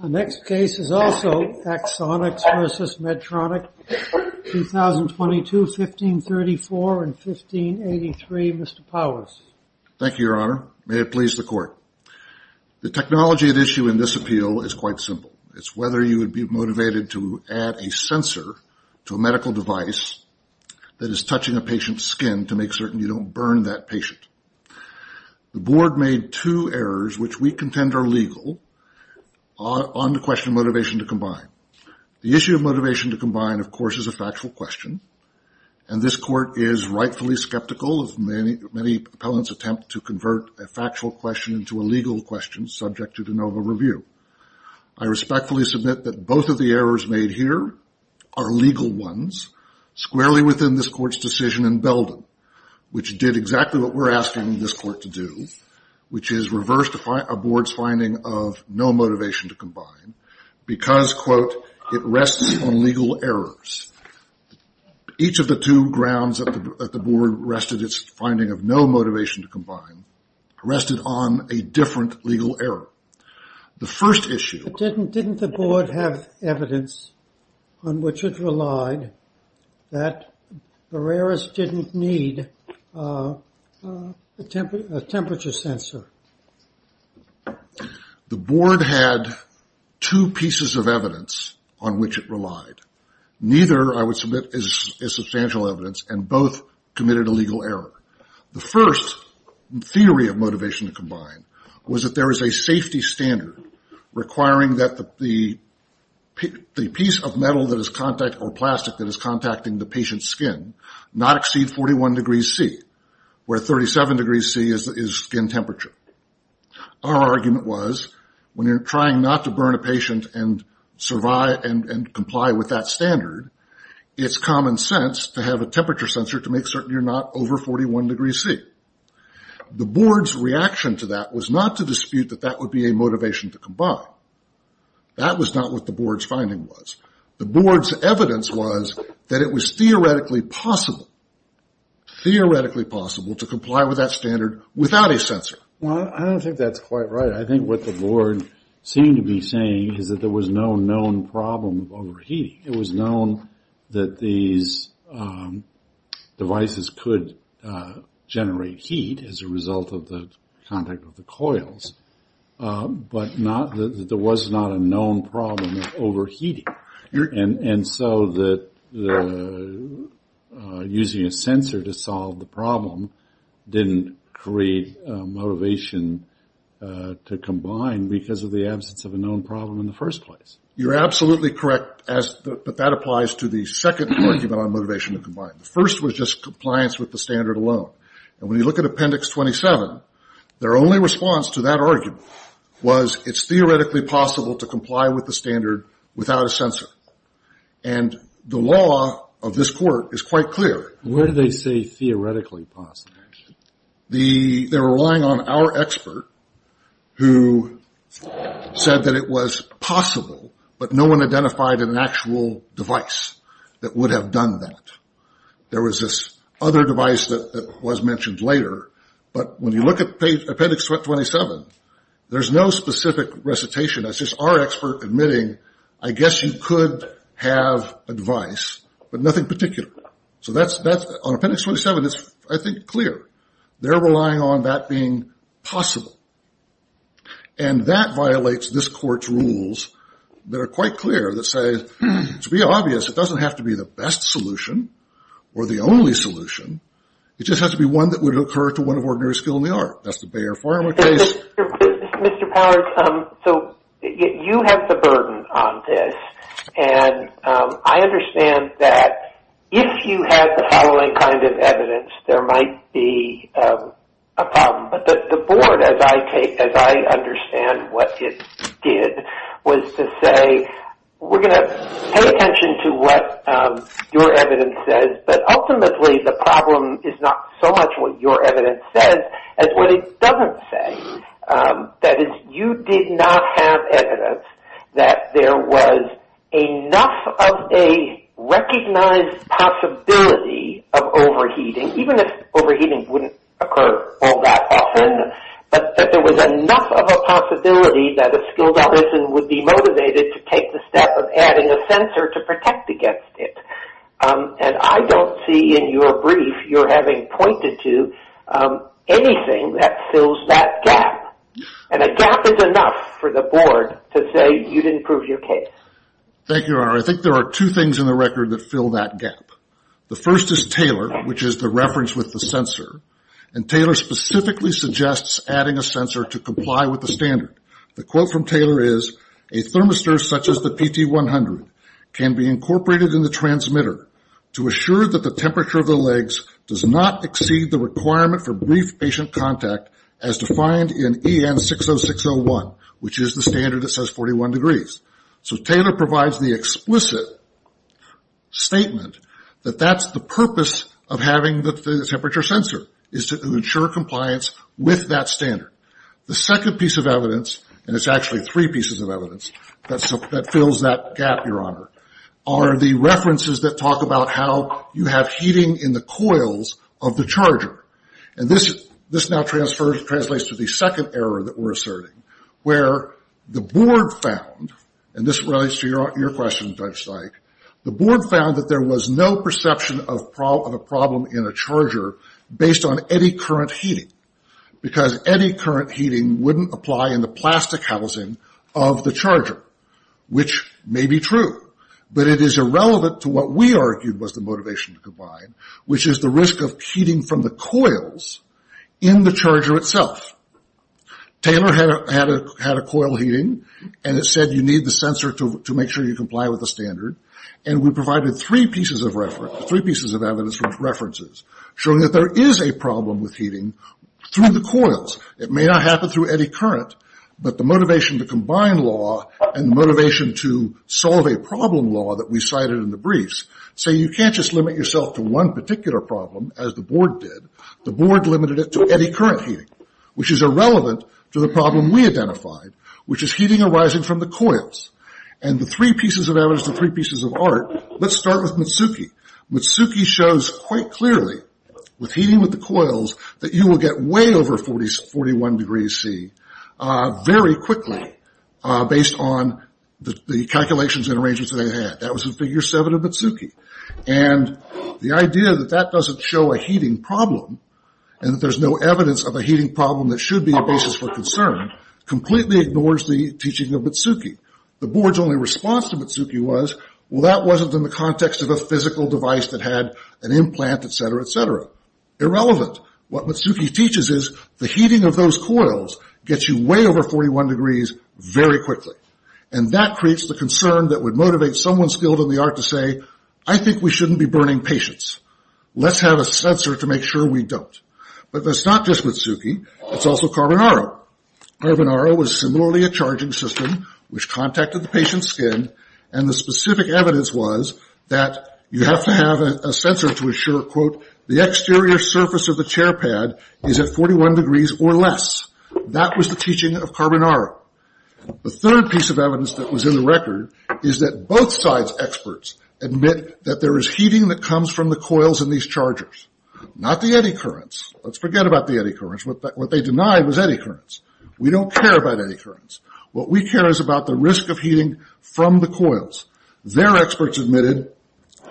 The next case is also Axonics v. Medtronic, 2022, 1534 and 1583. Mr. Powers. Thank you, Your Honor. May it please the Court. The technology at issue in this appeal is quite simple. It's whether you would be motivated to add a sensor to a medical device that is touching a patient's skin to make certain you don't burn that patient. The Board made two errors, which we contend are legal, on the question of motivation to combine. The issue of motivation to combine, of course, is a factual question, and this Court is rightfully skeptical of many opponents' attempt to convert a factual question into a legal question subject to de novo review. I respectfully submit that both of the errors made here are legal ones, squarely within this Court's decision in Belden, which did exactly what we're asking this Court to do, which is reverse a Board's finding of no motivation to combine, because, quote, it rests on legal errors. Each of the two grounds that the Board rested its finding of no motivation to combine rested on a different legal error. The first issue... Didn't the Board have evidence on which it relied that Verreras didn't need a temperature sensor? The Board had two pieces of evidence on which it relied. Neither, I would submit, is substantial evidence, and both committed a legal error. The first theory of motivation to combine was that there is a safety standard requiring that the piece of metal or plastic that is contacting the patient's skin not exceed 41 degrees C, where 37 degrees C is skin temperature. Our argument was, when you're trying not to burn a patient and comply with that standard, it's common sense to have a temperature sensor to make certain you're not over 41 degrees C. The Board's reaction to that was not to dispute that that would be a motivation to combine. That was not what the Board's finding was. The Board's evidence was that it was theoretically possible, theoretically possible, to comply with that standard without a sensor. Well, I don't think that's quite right. I think what the Board seemed to be saying is that there was no known problem of overheating. It was known that these devices could generate heat as a result of the contact of the coils, but there was not a known problem of overheating. And so using a sensor to solve the problem didn't create motivation to combine because of the absence of a known problem in the first place. You're absolutely correct, but that applies to the second argument on motivation to combine. The first was just compliance with the standard alone. And when you look at Appendix 27, their only response to that argument was it's theoretically possible to comply with the standard without a sensor. And the law of this Court is quite clear. Where do they say theoretically possible? They're relying on our expert who said that it was possible, but no one identified an actual device that would have done that. There was this other device that was mentioned later, but when you look at Appendix 27, there's no specific recitation. It's just our expert admitting, I guess you could have a device, but nothing particular. So on Appendix 27, it's, I think, clear. They're relying on that being possible. And that violates this Court's rules that are quite clear that say, to be obvious, it doesn't have to be the best solution or the only solution. It just has to be one that would occur to one of ordinary skill in the art. That's the Bayer Pharma case. Mr. Powers, so you have the burden on this, and I understand that if you have the following kind of evidence, there might be a problem. But the board, as I understand what it did, was to say, we're going to pay attention to what your evidence says, but ultimately the problem is not so much what your evidence says as what it doesn't say. That is, you did not have evidence that there was enough of a recognized possibility of overheating, even if overheating wouldn't occur all that often, but that there was enough of a possibility that a skilled artisan would be motivated to take the step of adding a sensor to protect against it. And I don't see in your brief you're having pointed to anything that fills that gap. And a gap is enough for the board to say you didn't prove your case. Thank you, Your Honor. I think there are two things in the record that fill that gap. The first is Taylor, which is the reference with the sensor, and Taylor specifically suggests adding a sensor to comply with the standard. The quote from Taylor is, A thermistor such as the PT100 can be incorporated in the transmitter to assure that the temperature of the legs does not exceed the requirement for brief patient contact as defined in EN60601, which is the standard that says 41 degrees. So Taylor provides the explicit statement that that's the purpose of having the temperature sensor, is to ensure compliance with that standard. The second piece of evidence, and it's actually three pieces of evidence that fills that gap, Your Honor, are the references that talk about how you have heating in the coils of the charger. And this now translates to the second error that we're asserting, where the board found, and this relates to your question, Judge Syke, the board found that there was no perception of a problem in a charger based on any current heating, because any current heating wouldn't apply in the plastic housing of the charger, which may be true. But it is irrelevant to what we argued was the motivation to comply, which is the risk of heating from the coils in the charger itself. Taylor had a coil heating, and it said you need the sensor to make sure you comply with the standard, and we provided three pieces of reference, three pieces of evidence from references, showing that there is a problem with heating through the coils. It may not happen through any current, but the motivation to combine law and motivation to solve a problem law that we cited in the briefs, say you can't just limit yourself to one particular problem, as the board did. The board limited it to any current heating, which is irrelevant to the problem we identified, which is heating arising from the coils. And the three pieces of evidence, the three pieces of art, let's start with Mitsuki. Mitsuki shows quite clearly, with heating with the coils, that you will get way over 41 degrees C very quickly, based on the calculations and arrangements that they had. That was in figure seven of Mitsuki. And the idea that that doesn't show a heating problem, and that there's no evidence of a heating problem that should be a basis for concern, completely ignores the teaching of Mitsuki. The board's only response to Mitsuki was, well, that wasn't in the context of a physical device that had an implant, etc., etc. Irrelevant. What Mitsuki teaches is, the heating of those coils gets you way over 41 degrees very quickly. And that creates the concern that would motivate someone skilled in the art to say, I think we shouldn't be burning patients. Let's have a sensor to make sure we don't. But that's not just Mitsuki, it's also Carbonaro. Carbonaro was similarly a charging system which contacted the patient's skin, and the specific evidence was that you have to have a sensor to assure, quote, the exterior surface of the chair pad is at 41 degrees or less. That was the teaching of Carbonaro. The third piece of evidence that was in the record is that both sides' experts admit that there is heating that comes from the coils in these chargers. Not the eddy currents. Let's forget about the eddy currents. What they denied was eddy currents. We don't care about eddy currents. What we care is about the risk of heating from the coils. Their experts admitted,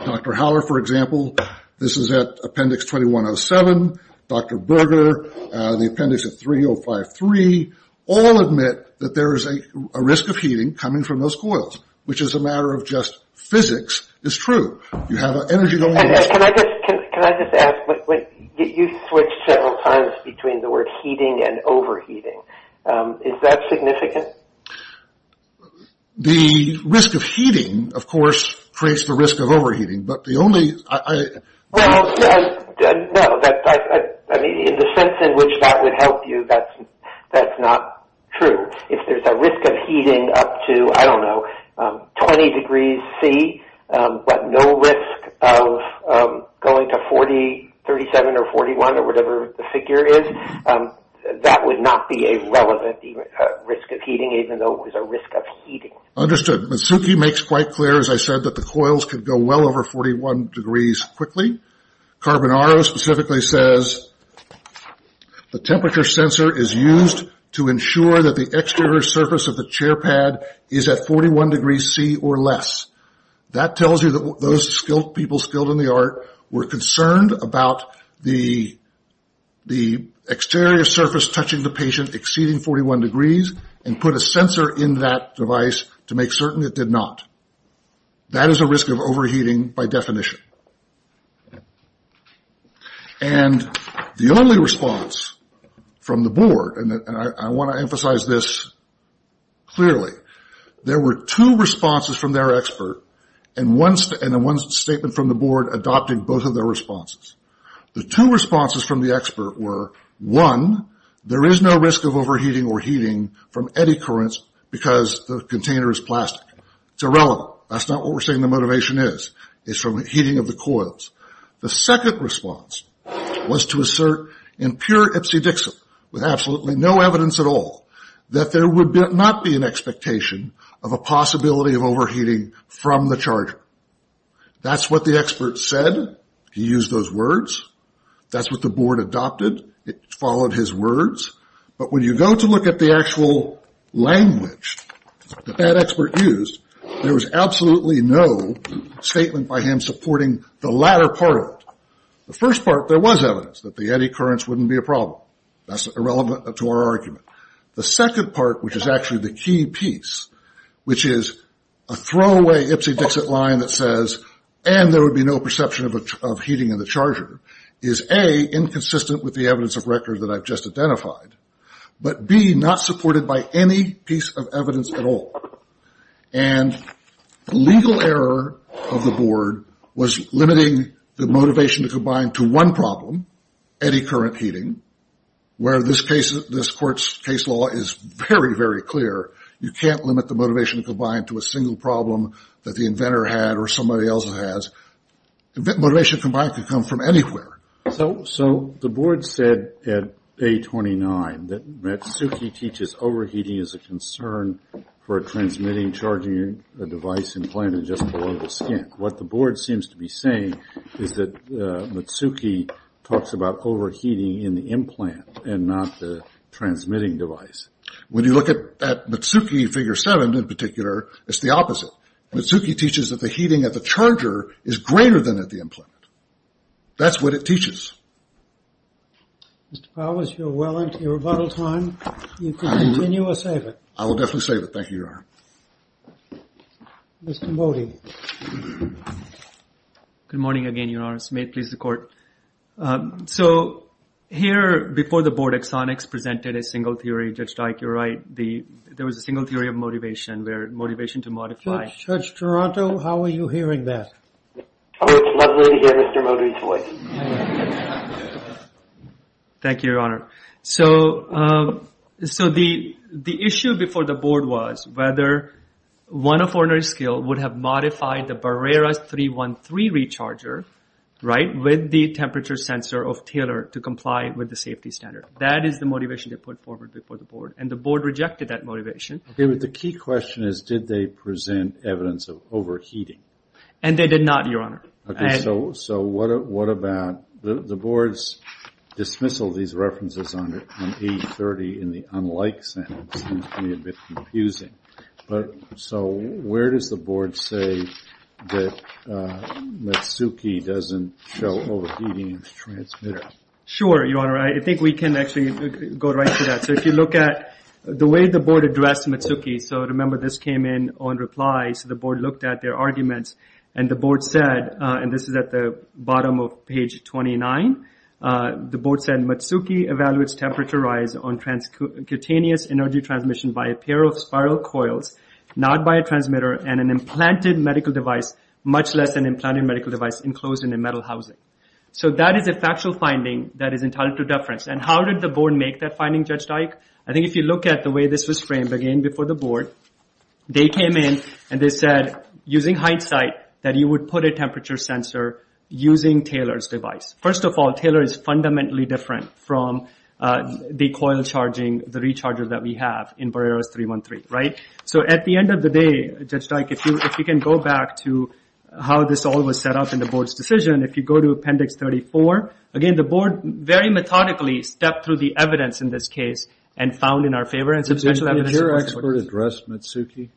Dr. Howler, for example, this is at appendix 2107, Dr. Berger, the appendix at 3053, all admit that there is a risk of heating coming from those coils, which as a matter of just physics is true. You have an energy- Can I just ask, you switched several times between the word heating and overheating. Is that significant? The risk of heating, of course, creates the risk of overheating, but the only- Well, no, in the sense in which that would help you, that's not true. If there's a risk of heating up to, I don't know, 20 degrees C, but no risk of going to 37 or 41 or whatever the figure is, that would not be a relevant risk of heating, even though it was a risk of heating. Understood. Mitsuki makes quite clear, as I said, that the coils could go well over 41 degrees quickly. Carbonaro specifically says the temperature sensor is used to ensure that the exterior surface of the chair pad is at 41 degrees C or less. That tells you that those people skilled in the art were concerned about the exterior surface touching the patient exceeding 41 degrees and put a sensor in that device to make certain it did not. That is a risk of overheating by definition. And the only response from the board, and I want to emphasize this clearly, there were two responses from their expert and one statement from the board adopting both of their responses. The two responses from the expert were, one, there is no risk of overheating or heating from eddy currents because the container is plastic. It's irrelevant. That's not what we're saying the motivation is. It's from the heating of the coils. The second response was to assert in pure Ipsy-Dixon, with absolutely no evidence at all, that there would not be an expectation of a possibility of overheating from the charger. That's what the expert said. He used those words. That's what the board adopted. It followed his words. But when you go to look at the actual language that that expert used, there was absolutely no statement by him supporting the latter part of it. The first part, there was evidence that the eddy currents wouldn't be a problem. That's irrelevant to our argument. The second part, which is actually the key piece, which is a throwaway Ipsy-Dixit line that says, and there would be no perception of heating in the charger, is A, inconsistent with the evidence of record that I've just identified, but B, not supported by any piece of evidence at all. And the legal error of the board was limiting the motivation to combine to one problem, eddy current heating, where this court's case law is very, very clear. You can't limit the motivation to combine to a single problem that the inventor had or somebody else has. Motivation combined could come from anywhere. So the board said at A29 that Matsuki teaches overheating is a concern for a transmitting, charging device implanted just below the skin. What the board seems to be saying is that Matsuki talks about overheating in the implant and not the transmitting device. When you look at Matsuki, figure seven in particular, it's the opposite. Matsuki teaches that the heating of the charger is greater than at the implant. That's what it teaches. Mr. Powers, you're well into your rebuttal time. You can continue or save it. I will definitely save it. Thank you, Your Honor. Mr. Modi. Good morning again, Your Honor. This may please the court. So here before the board, Exonix presented a single theory. Judge Dike, you're right. There was a single theory of motivation where motivation to modify. Judge Toronto, how are you hearing that? It's lovely to hear Mr. Modi's voice. Thank you, Your Honor. So the issue before the board was whether one of ordinary skill would have modified the Barrera 313 recharger with the temperature sensor of Taylor to comply with the safety standard. That is the motivation they put forward before the board. And the board rejected that motivation. Okay, but the key question is did they present evidence of overheating? And they did not, Your Honor. So what about the board's dismissal of these references on 830 in the unlike sentence seems to me a bit confusing. So where does the board say that Matsuki doesn't show overheating in the transmitter? Sure, Your Honor. I think we can actually go right to that. So if you look at the way the board addressed Matsuki, so remember this came in on reply. So the board looked at their arguments, and the board said, and this is at the bottom of page 29, the board said Matsuki evaluates temperature rise on cutaneous energy transmission by a pair of spiral coils, not by a transmitter, and an implanted medical device, much less an implanted medical device, enclosed in a metal housing. So that is a factual finding that is entitled to deference. And how did the board make that finding, Judge Dyke? I think if you look at the way this was framed, again, before the board, they came in and they said, using hindsight, that you would put a temperature sensor using Taylor's device. First of all, Taylor is fundamentally different from the coil charging, the recharger that we have in Barreros 313, right? So at the end of the day, Judge Dyke, if you can go back to how this all was set up in the board's decision, if you go to Appendix 34, again, the board very methodically stepped through the evidence in this case and found in our favor. Did your expert address Matsuki?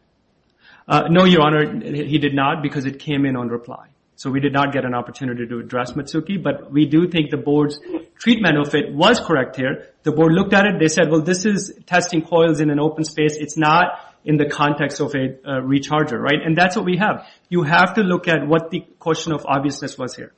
No, Your Honor, he did not, because it came in on reply. So we did not get an opportunity to address Matsuki, but we do think the board's treatment of it was correct here. The board looked at it, they said, well, this is testing coils in an open space. It's not in the context of a recharger, right? And that's what we have. You have to look at what the question of obviousness was here.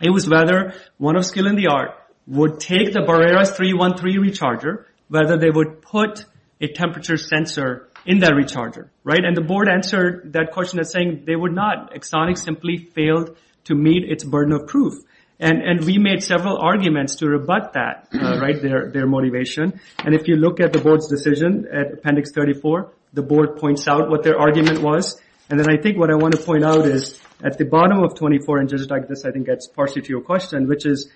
It was whether one of skill and the art would take the Barreros 313 recharger, whether they would put a temperature sensor in that recharger, right? And the board answered that question as saying they would not. Exonix simply failed to meet its burden of proof. And we made several arguments to rebut that, right, their motivation. And if you look at the board's decision at Appendix 34, the board points out what their argument was. And then I think what I want to point out is at the bottom of 24, and just like this, I think that's partially to your question, which is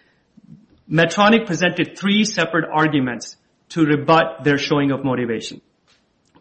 Medtronic presented three separate arguments to rebut their showing of motivation.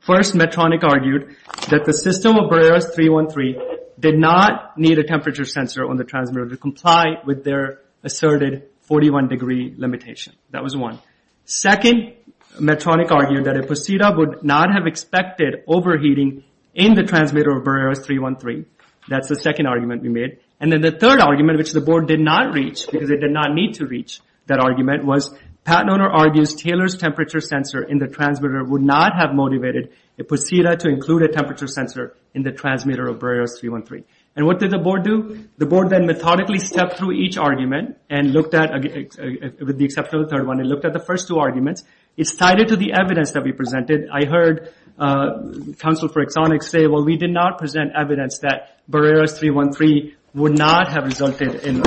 First, Medtronic argued that the system of Barreros 313 did not need a temperature sensor on the transmitter to comply with their asserted 41 degree limitation. That was one. Second, Medtronic argued that Ipposita would not have expected overheating in the transmitter of Barreros 313. That's the second argument we made. And then the third argument, which the board did not reach because it did not need to reach that argument, was Pat Noner argues Taylor's temperature sensor in the transmitter would not have motivated Ipposita to include a temperature sensor in the transmitter of Barreros 313. And what did the board do? The board then methodically stepped through each argument and looked at, with the exception of the third one, it looked at the first two arguments. It sided to the evidence that we presented. I heard counsel for Exonix say, well, we did not present evidence that Barreros 313 would not have resulted in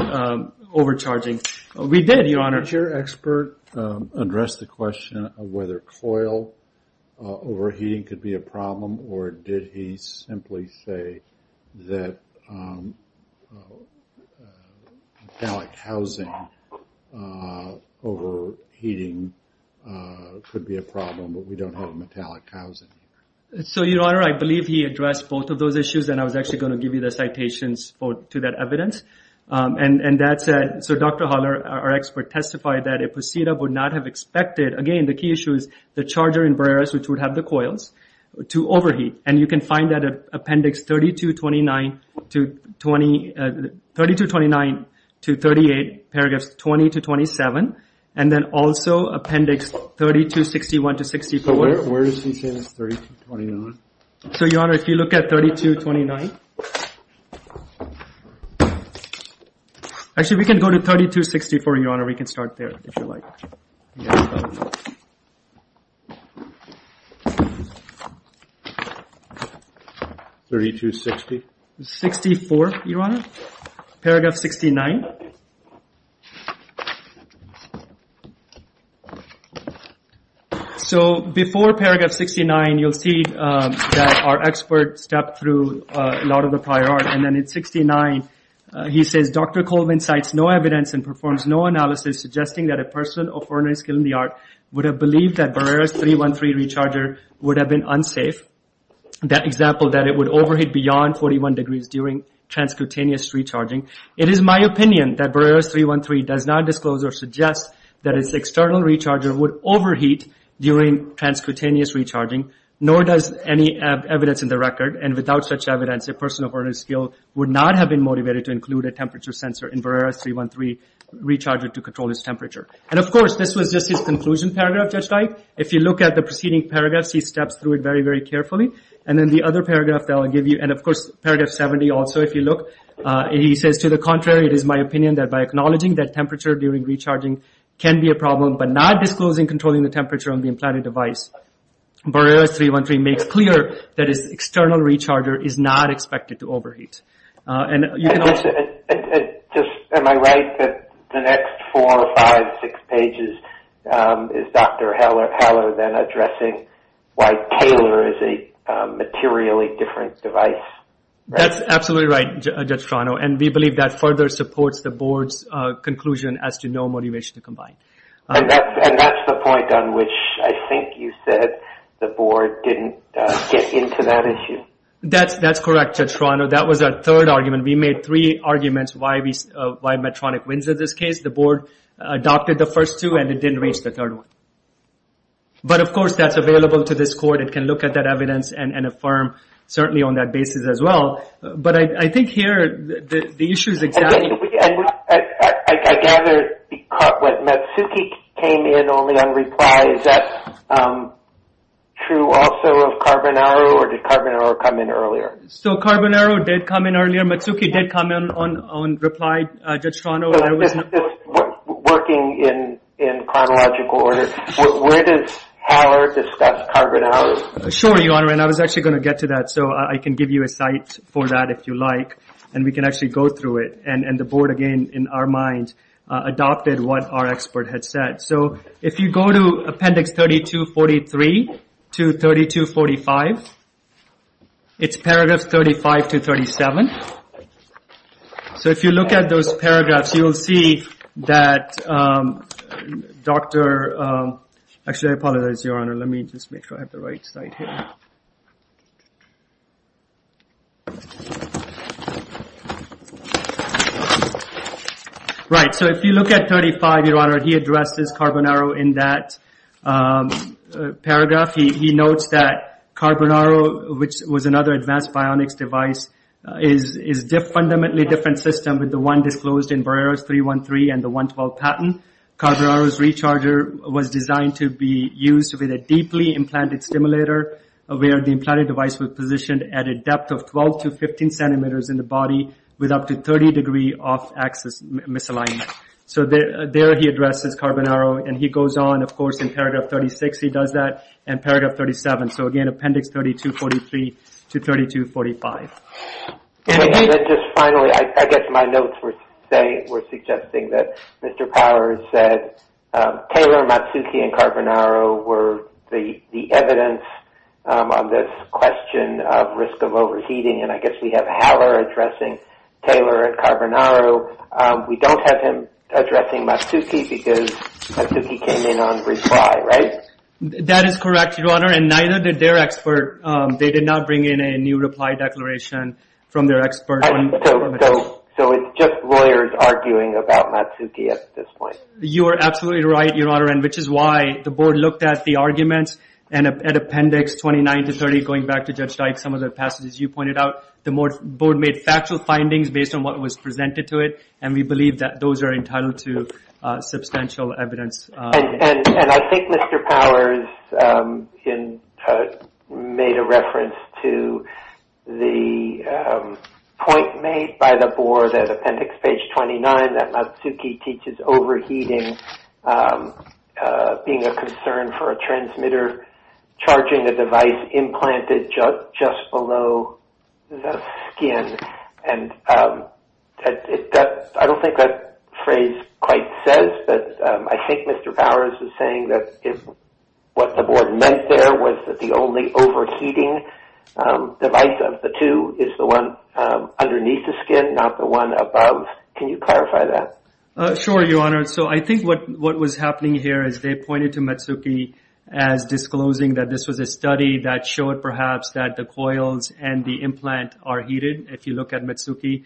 overcharging. We did, Your Honor. Did your expert address the question of whether coil overheating could be a problem, or did he simply say that metallic housing overheating could be a problem but we don't have metallic housing? So, Your Honor, I believe he addressed both of those issues, and I was actually going to give you the citations to that evidence. So Dr. Haller, our expert, testified that Ipposita would not have expected, again, the key issue is the charger in Barreros, which would have the coils, to overheat. And you can find that in Appendix 3229 to 38, paragraphs 20 to 27, and then also Appendix 3261 to 64. So where does he say that's 3229? So, Your Honor, if you look at 3229, actually, we can go to 3264, Your Honor. We can start there, if you like. 3260? 64, Your Honor, paragraph 69. So, before paragraph 69, you'll see that our expert stepped through a lot of the prior art. And then in 69, he says, Dr. Colvin cites no evidence and performs no analysis suggesting that a person of ordinary skill in the art would have believed that Barreros 313 recharger would have been unsafe, that example that it would overheat beyond 41 degrees during transcutaneous recharging. It is my opinion that Barreros 313 does not disclose or suggest that its external recharger would overheat during transcutaneous recharging, nor does any evidence in the record. And without such evidence, a person of ordinary skill would not have been motivated to include a temperature sensor in Barreros 313 recharger to control its temperature. And, of course, this was just his conclusion paragraph, Judge Dike. If you look at the preceding paragraphs, he steps through it very, very carefully. And then the other paragraph that I'll give you, and, of course, paragraph 70 also, if you look, he says, to the contrary, it is my opinion that by acknowledging that temperature during recharging can be a problem but not disclosing controlling the temperature on the implanted device, Barreros 313 makes clear that its external recharger is not expected to overheat. And you can also... Just am I right that the next four, five, six pages is Dr. Heller then addressing why Taylor is a materially different device? That's absolutely right, Judge Toronto. And we believe that further supports the board's conclusion as to no motivation to combine. And that's the point on which I think you said the board didn't get into that issue? That's correct, Judge Toronto. That was our third argument. We made three arguments why Medtronic wins in this case. The board adopted the first two, and it didn't reach the third one. But, of course, that's available to this court. It can look at that evidence and affirm certainly on that basis as well. But I think here the issue is exactly... I gather what Matsuki came in only on reply. Is that true also of Carbonaro, or did Carbonaro come in earlier? So Carbonaro did come in earlier. Matsuki did come in on reply, Judge Toronto. Working in chronological order, where does Heller discuss Carbonaro? Sure, Your Honor, and I was actually going to get to that, so I can give you a site for that if you like, and we can actually go through it. And the board, again, in our mind, adopted what our expert had said. So if you go to Appendix 3243 to 3245, it's paragraphs 35 to 37. So if you look at those paragraphs, you'll see that Dr. Actually, I apologize, Your Honor. Let me just make sure I have the right slide here. Right, so if you look at 35, Your Honor, he addressed this Carbonaro in that paragraph. He notes that Carbonaro, which was another advanced bionics device, is a fundamentally different system with the one disclosed in Barreros 313 and the 112 patent. Carbonaro's recharger was designed to be used with a deeply implanted stimulator, where the implanted device was positioned at a depth of 12 to 15 centimeters in the body with up to 30 degree off-axis misalignment. So there he addresses Carbonaro, and he goes on. Of course, in Paragraph 36, he does that, and Paragraph 37. So again, Appendix 3243 to 3245. And just finally, I guess my notes were suggesting that Mr. Powers said Taylor, Matsuki, and Carbonaro were the evidence on this question of risk of overheating, and I guess we have Haller addressing Taylor and Carbonaro. We don't have him addressing Matsuki because Matsuki came in on reply, right? That is correct, Your Honor, and neither did their expert. They did not bring in a new reply declaration from their expert. So it's just lawyers arguing about Matsuki at this point. You are absolutely right, Your Honor, and which is why the board looked at the arguments and at Appendix 29 to 30, going back to Judge Dyke, some of the passages you pointed out, the board made factual findings based on what was presented to it, and we believe that those are entitled to substantial evidence. And I think Mr. Powers made a reference to the point made by the board at Appendix 29 that Matsuki teaches overheating being a concern for a transmitter charging a device implanted just below the skin. And I don't think that phrase quite says, but I think Mr. Powers is saying that what the board meant there was that the only overheating device of the two is the one underneath the skin, not the one above. Sure, Your Honor. So I think what was happening here is they pointed to Matsuki as disclosing that this was a study that showed perhaps that the coils and the implant are heated. If you look at Matsuki,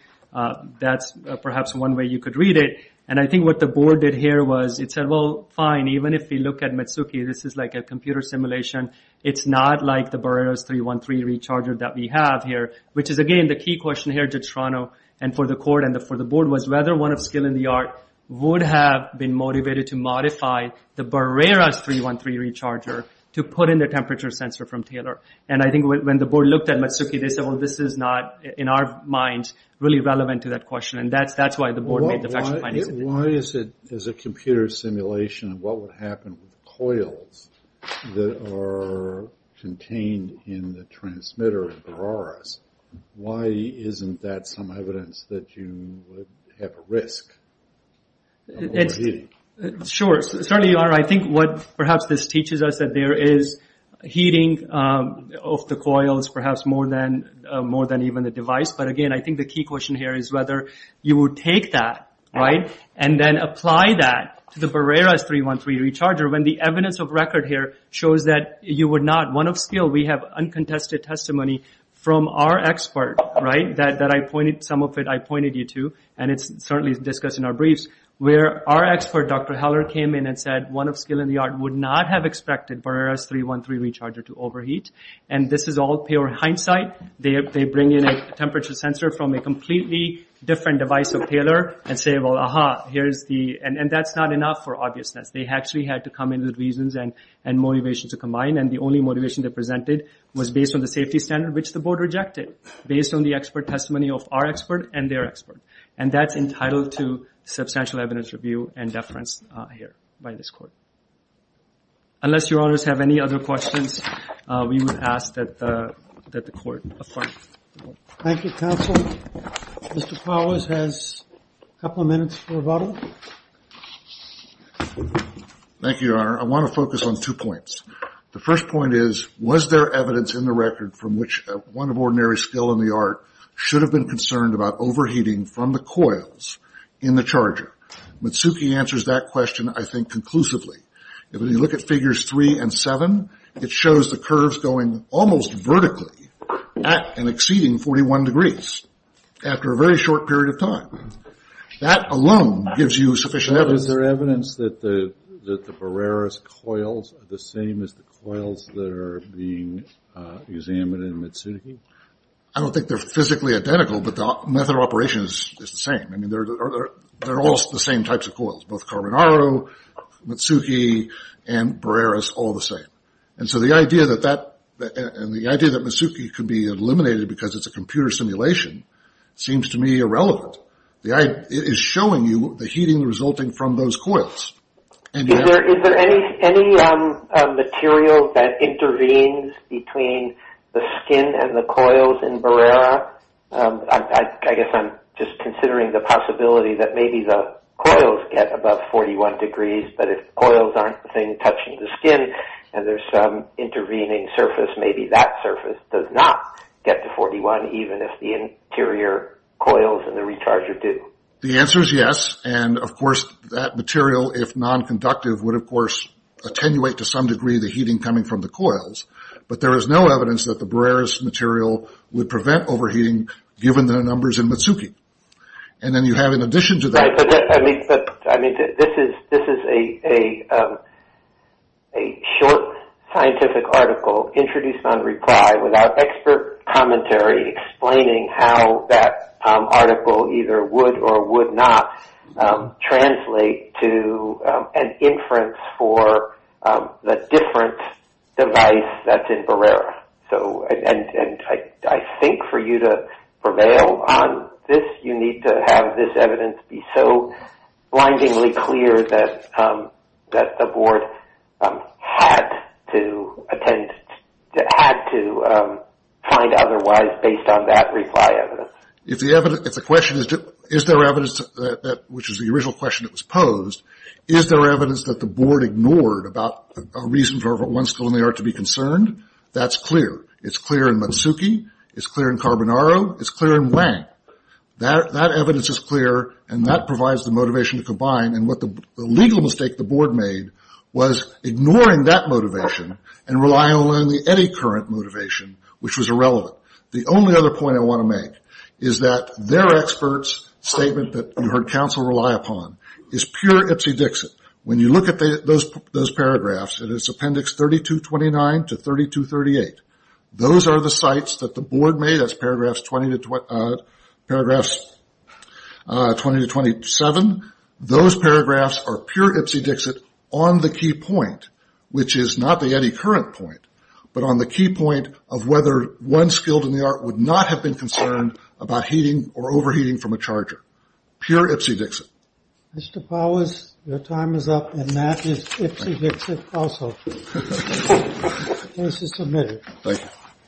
that's perhaps one way you could read it. And I think what the board did here was it said, well, fine, even if you look at Matsuki, this is like a computer simulation. It's not like the Barreros 313 recharger that we have here, which is, again, the key question here to Toronto and for the court and for the board was whether anyone of skill in the art would have been motivated to modify the Barreros 313 recharger to put in the temperature sensor from Taylor. And I think when the board looked at Matsuki, they said, well, this is not, in our mind, really relevant to that question. And that's why the board made the factual findings of it. Why is it, as a computer simulation, what would happen with the coils that are contained in the transmitter of Barreros? Why isn't that some evidence that you would have a risk of overheating? Sure. Certainly, Your Honor, I think what perhaps this teaches us is that there is heating of the coils, perhaps more than even the device. But, again, I think the key question here is whether you would take that, right, and then apply that to the Barreros 313 recharger when the evidence of record here shows that you would not. One of skill, we have uncontested testimony from our expert, right, that I pointed, some of it I pointed you to, and it's certainly discussed in our briefs, where our expert, Dr. Heller, came in and said one of skill in the art would not have expected Barreros 313 recharger to overheat. And this is all pure hindsight. They bring in a temperature sensor from a completely different device of Taylor and say, well, aha, here's the, and that's not enough for obviousness. They actually had to come in with reasons and motivations to combine. And the only motivation they presented was based on the safety standard which the board rejected, based on the expert testimony of our expert and their expert. And that's entitled to substantial evidence review and deference here by this court. Unless Your Honors have any other questions, we would ask that the court affirm. Thank you, counsel. Mr. Powers has a couple of minutes for rebuttal. Thank you, Your Honor. I want to focus on two points. The first point is, was there evidence in the record from which one of ordinary skill in the art should have been concerned about overheating from the coils in the charger? Mitsuki answers that question, I think, conclusively. If you look at Figures 3 and 7, it shows the curves going almost vertically at and exceeding 41 degrees after a very short period of time. That alone gives you sufficient evidence. Is there evidence that the Bareris coils are the same as the coils that are being examined in Mitsuki? I don't think they're physically identical, but the method of operation is the same. I mean, they're all the same types of coils, both Carbonaro, Mitsuki, and Bareris, all the same. And so the idea that Mitsuki could be eliminated because it's a computer simulation seems to me irrelevant. It is showing you the heating resulting from those coils. Is there any material that intervenes between the skin and the coils in Bareris? I guess I'm just considering the possibility that maybe the coils get above 41 degrees, but if coils aren't the thing touching the skin and there's some intervening surface, maybe that surface does not get to 41, even if the interior coils and the recharger do. The answer is yes. And, of course, that material, if nonconductive, would, of course, attenuate to some degree the heating coming from the coils. But there is no evidence that the Bareris material would prevent overheating, given the numbers in Mitsuki. And then you have, in addition to that… This is a short scientific article introduced on reply without expert commentary explaining how that article either would or would not translate to an inference for the different device that's in Bareris. And I think for you to prevail on this, you need to have this evidence be so blindingly clear that the board had to find otherwise, based on that reply evidence. If the question is, is there evidence, which is the original question that was posed, is there evidence that the board ignored about a reason for one skill in the art to be concerned? That's clear. It's clear in Mitsuki. It's clear in Carbonaro. It's clear in Wang. That evidence is clear, and that provides the motivation to combine. And what the legal mistake the board made was ignoring that motivation and relying only on the Eddy current motivation, which was irrelevant. The only other point I want to make is that their experts' statement that you heard counsel rely upon is pure Ipsy Dixit. When you look at those paragraphs, it is appendix 3229 to 3238. Those are the sites that the board made as paragraphs 20 to 27. Those paragraphs are pure Ipsy Dixit on the key point, which is not the Eddy current point, but on the key point of whether one skilled in the art would not have been concerned about heating or overheating from a charger, pure Ipsy Dixit. Mr. Powers, your time is up, and that is Ipsy Dixit also. The case is submitted.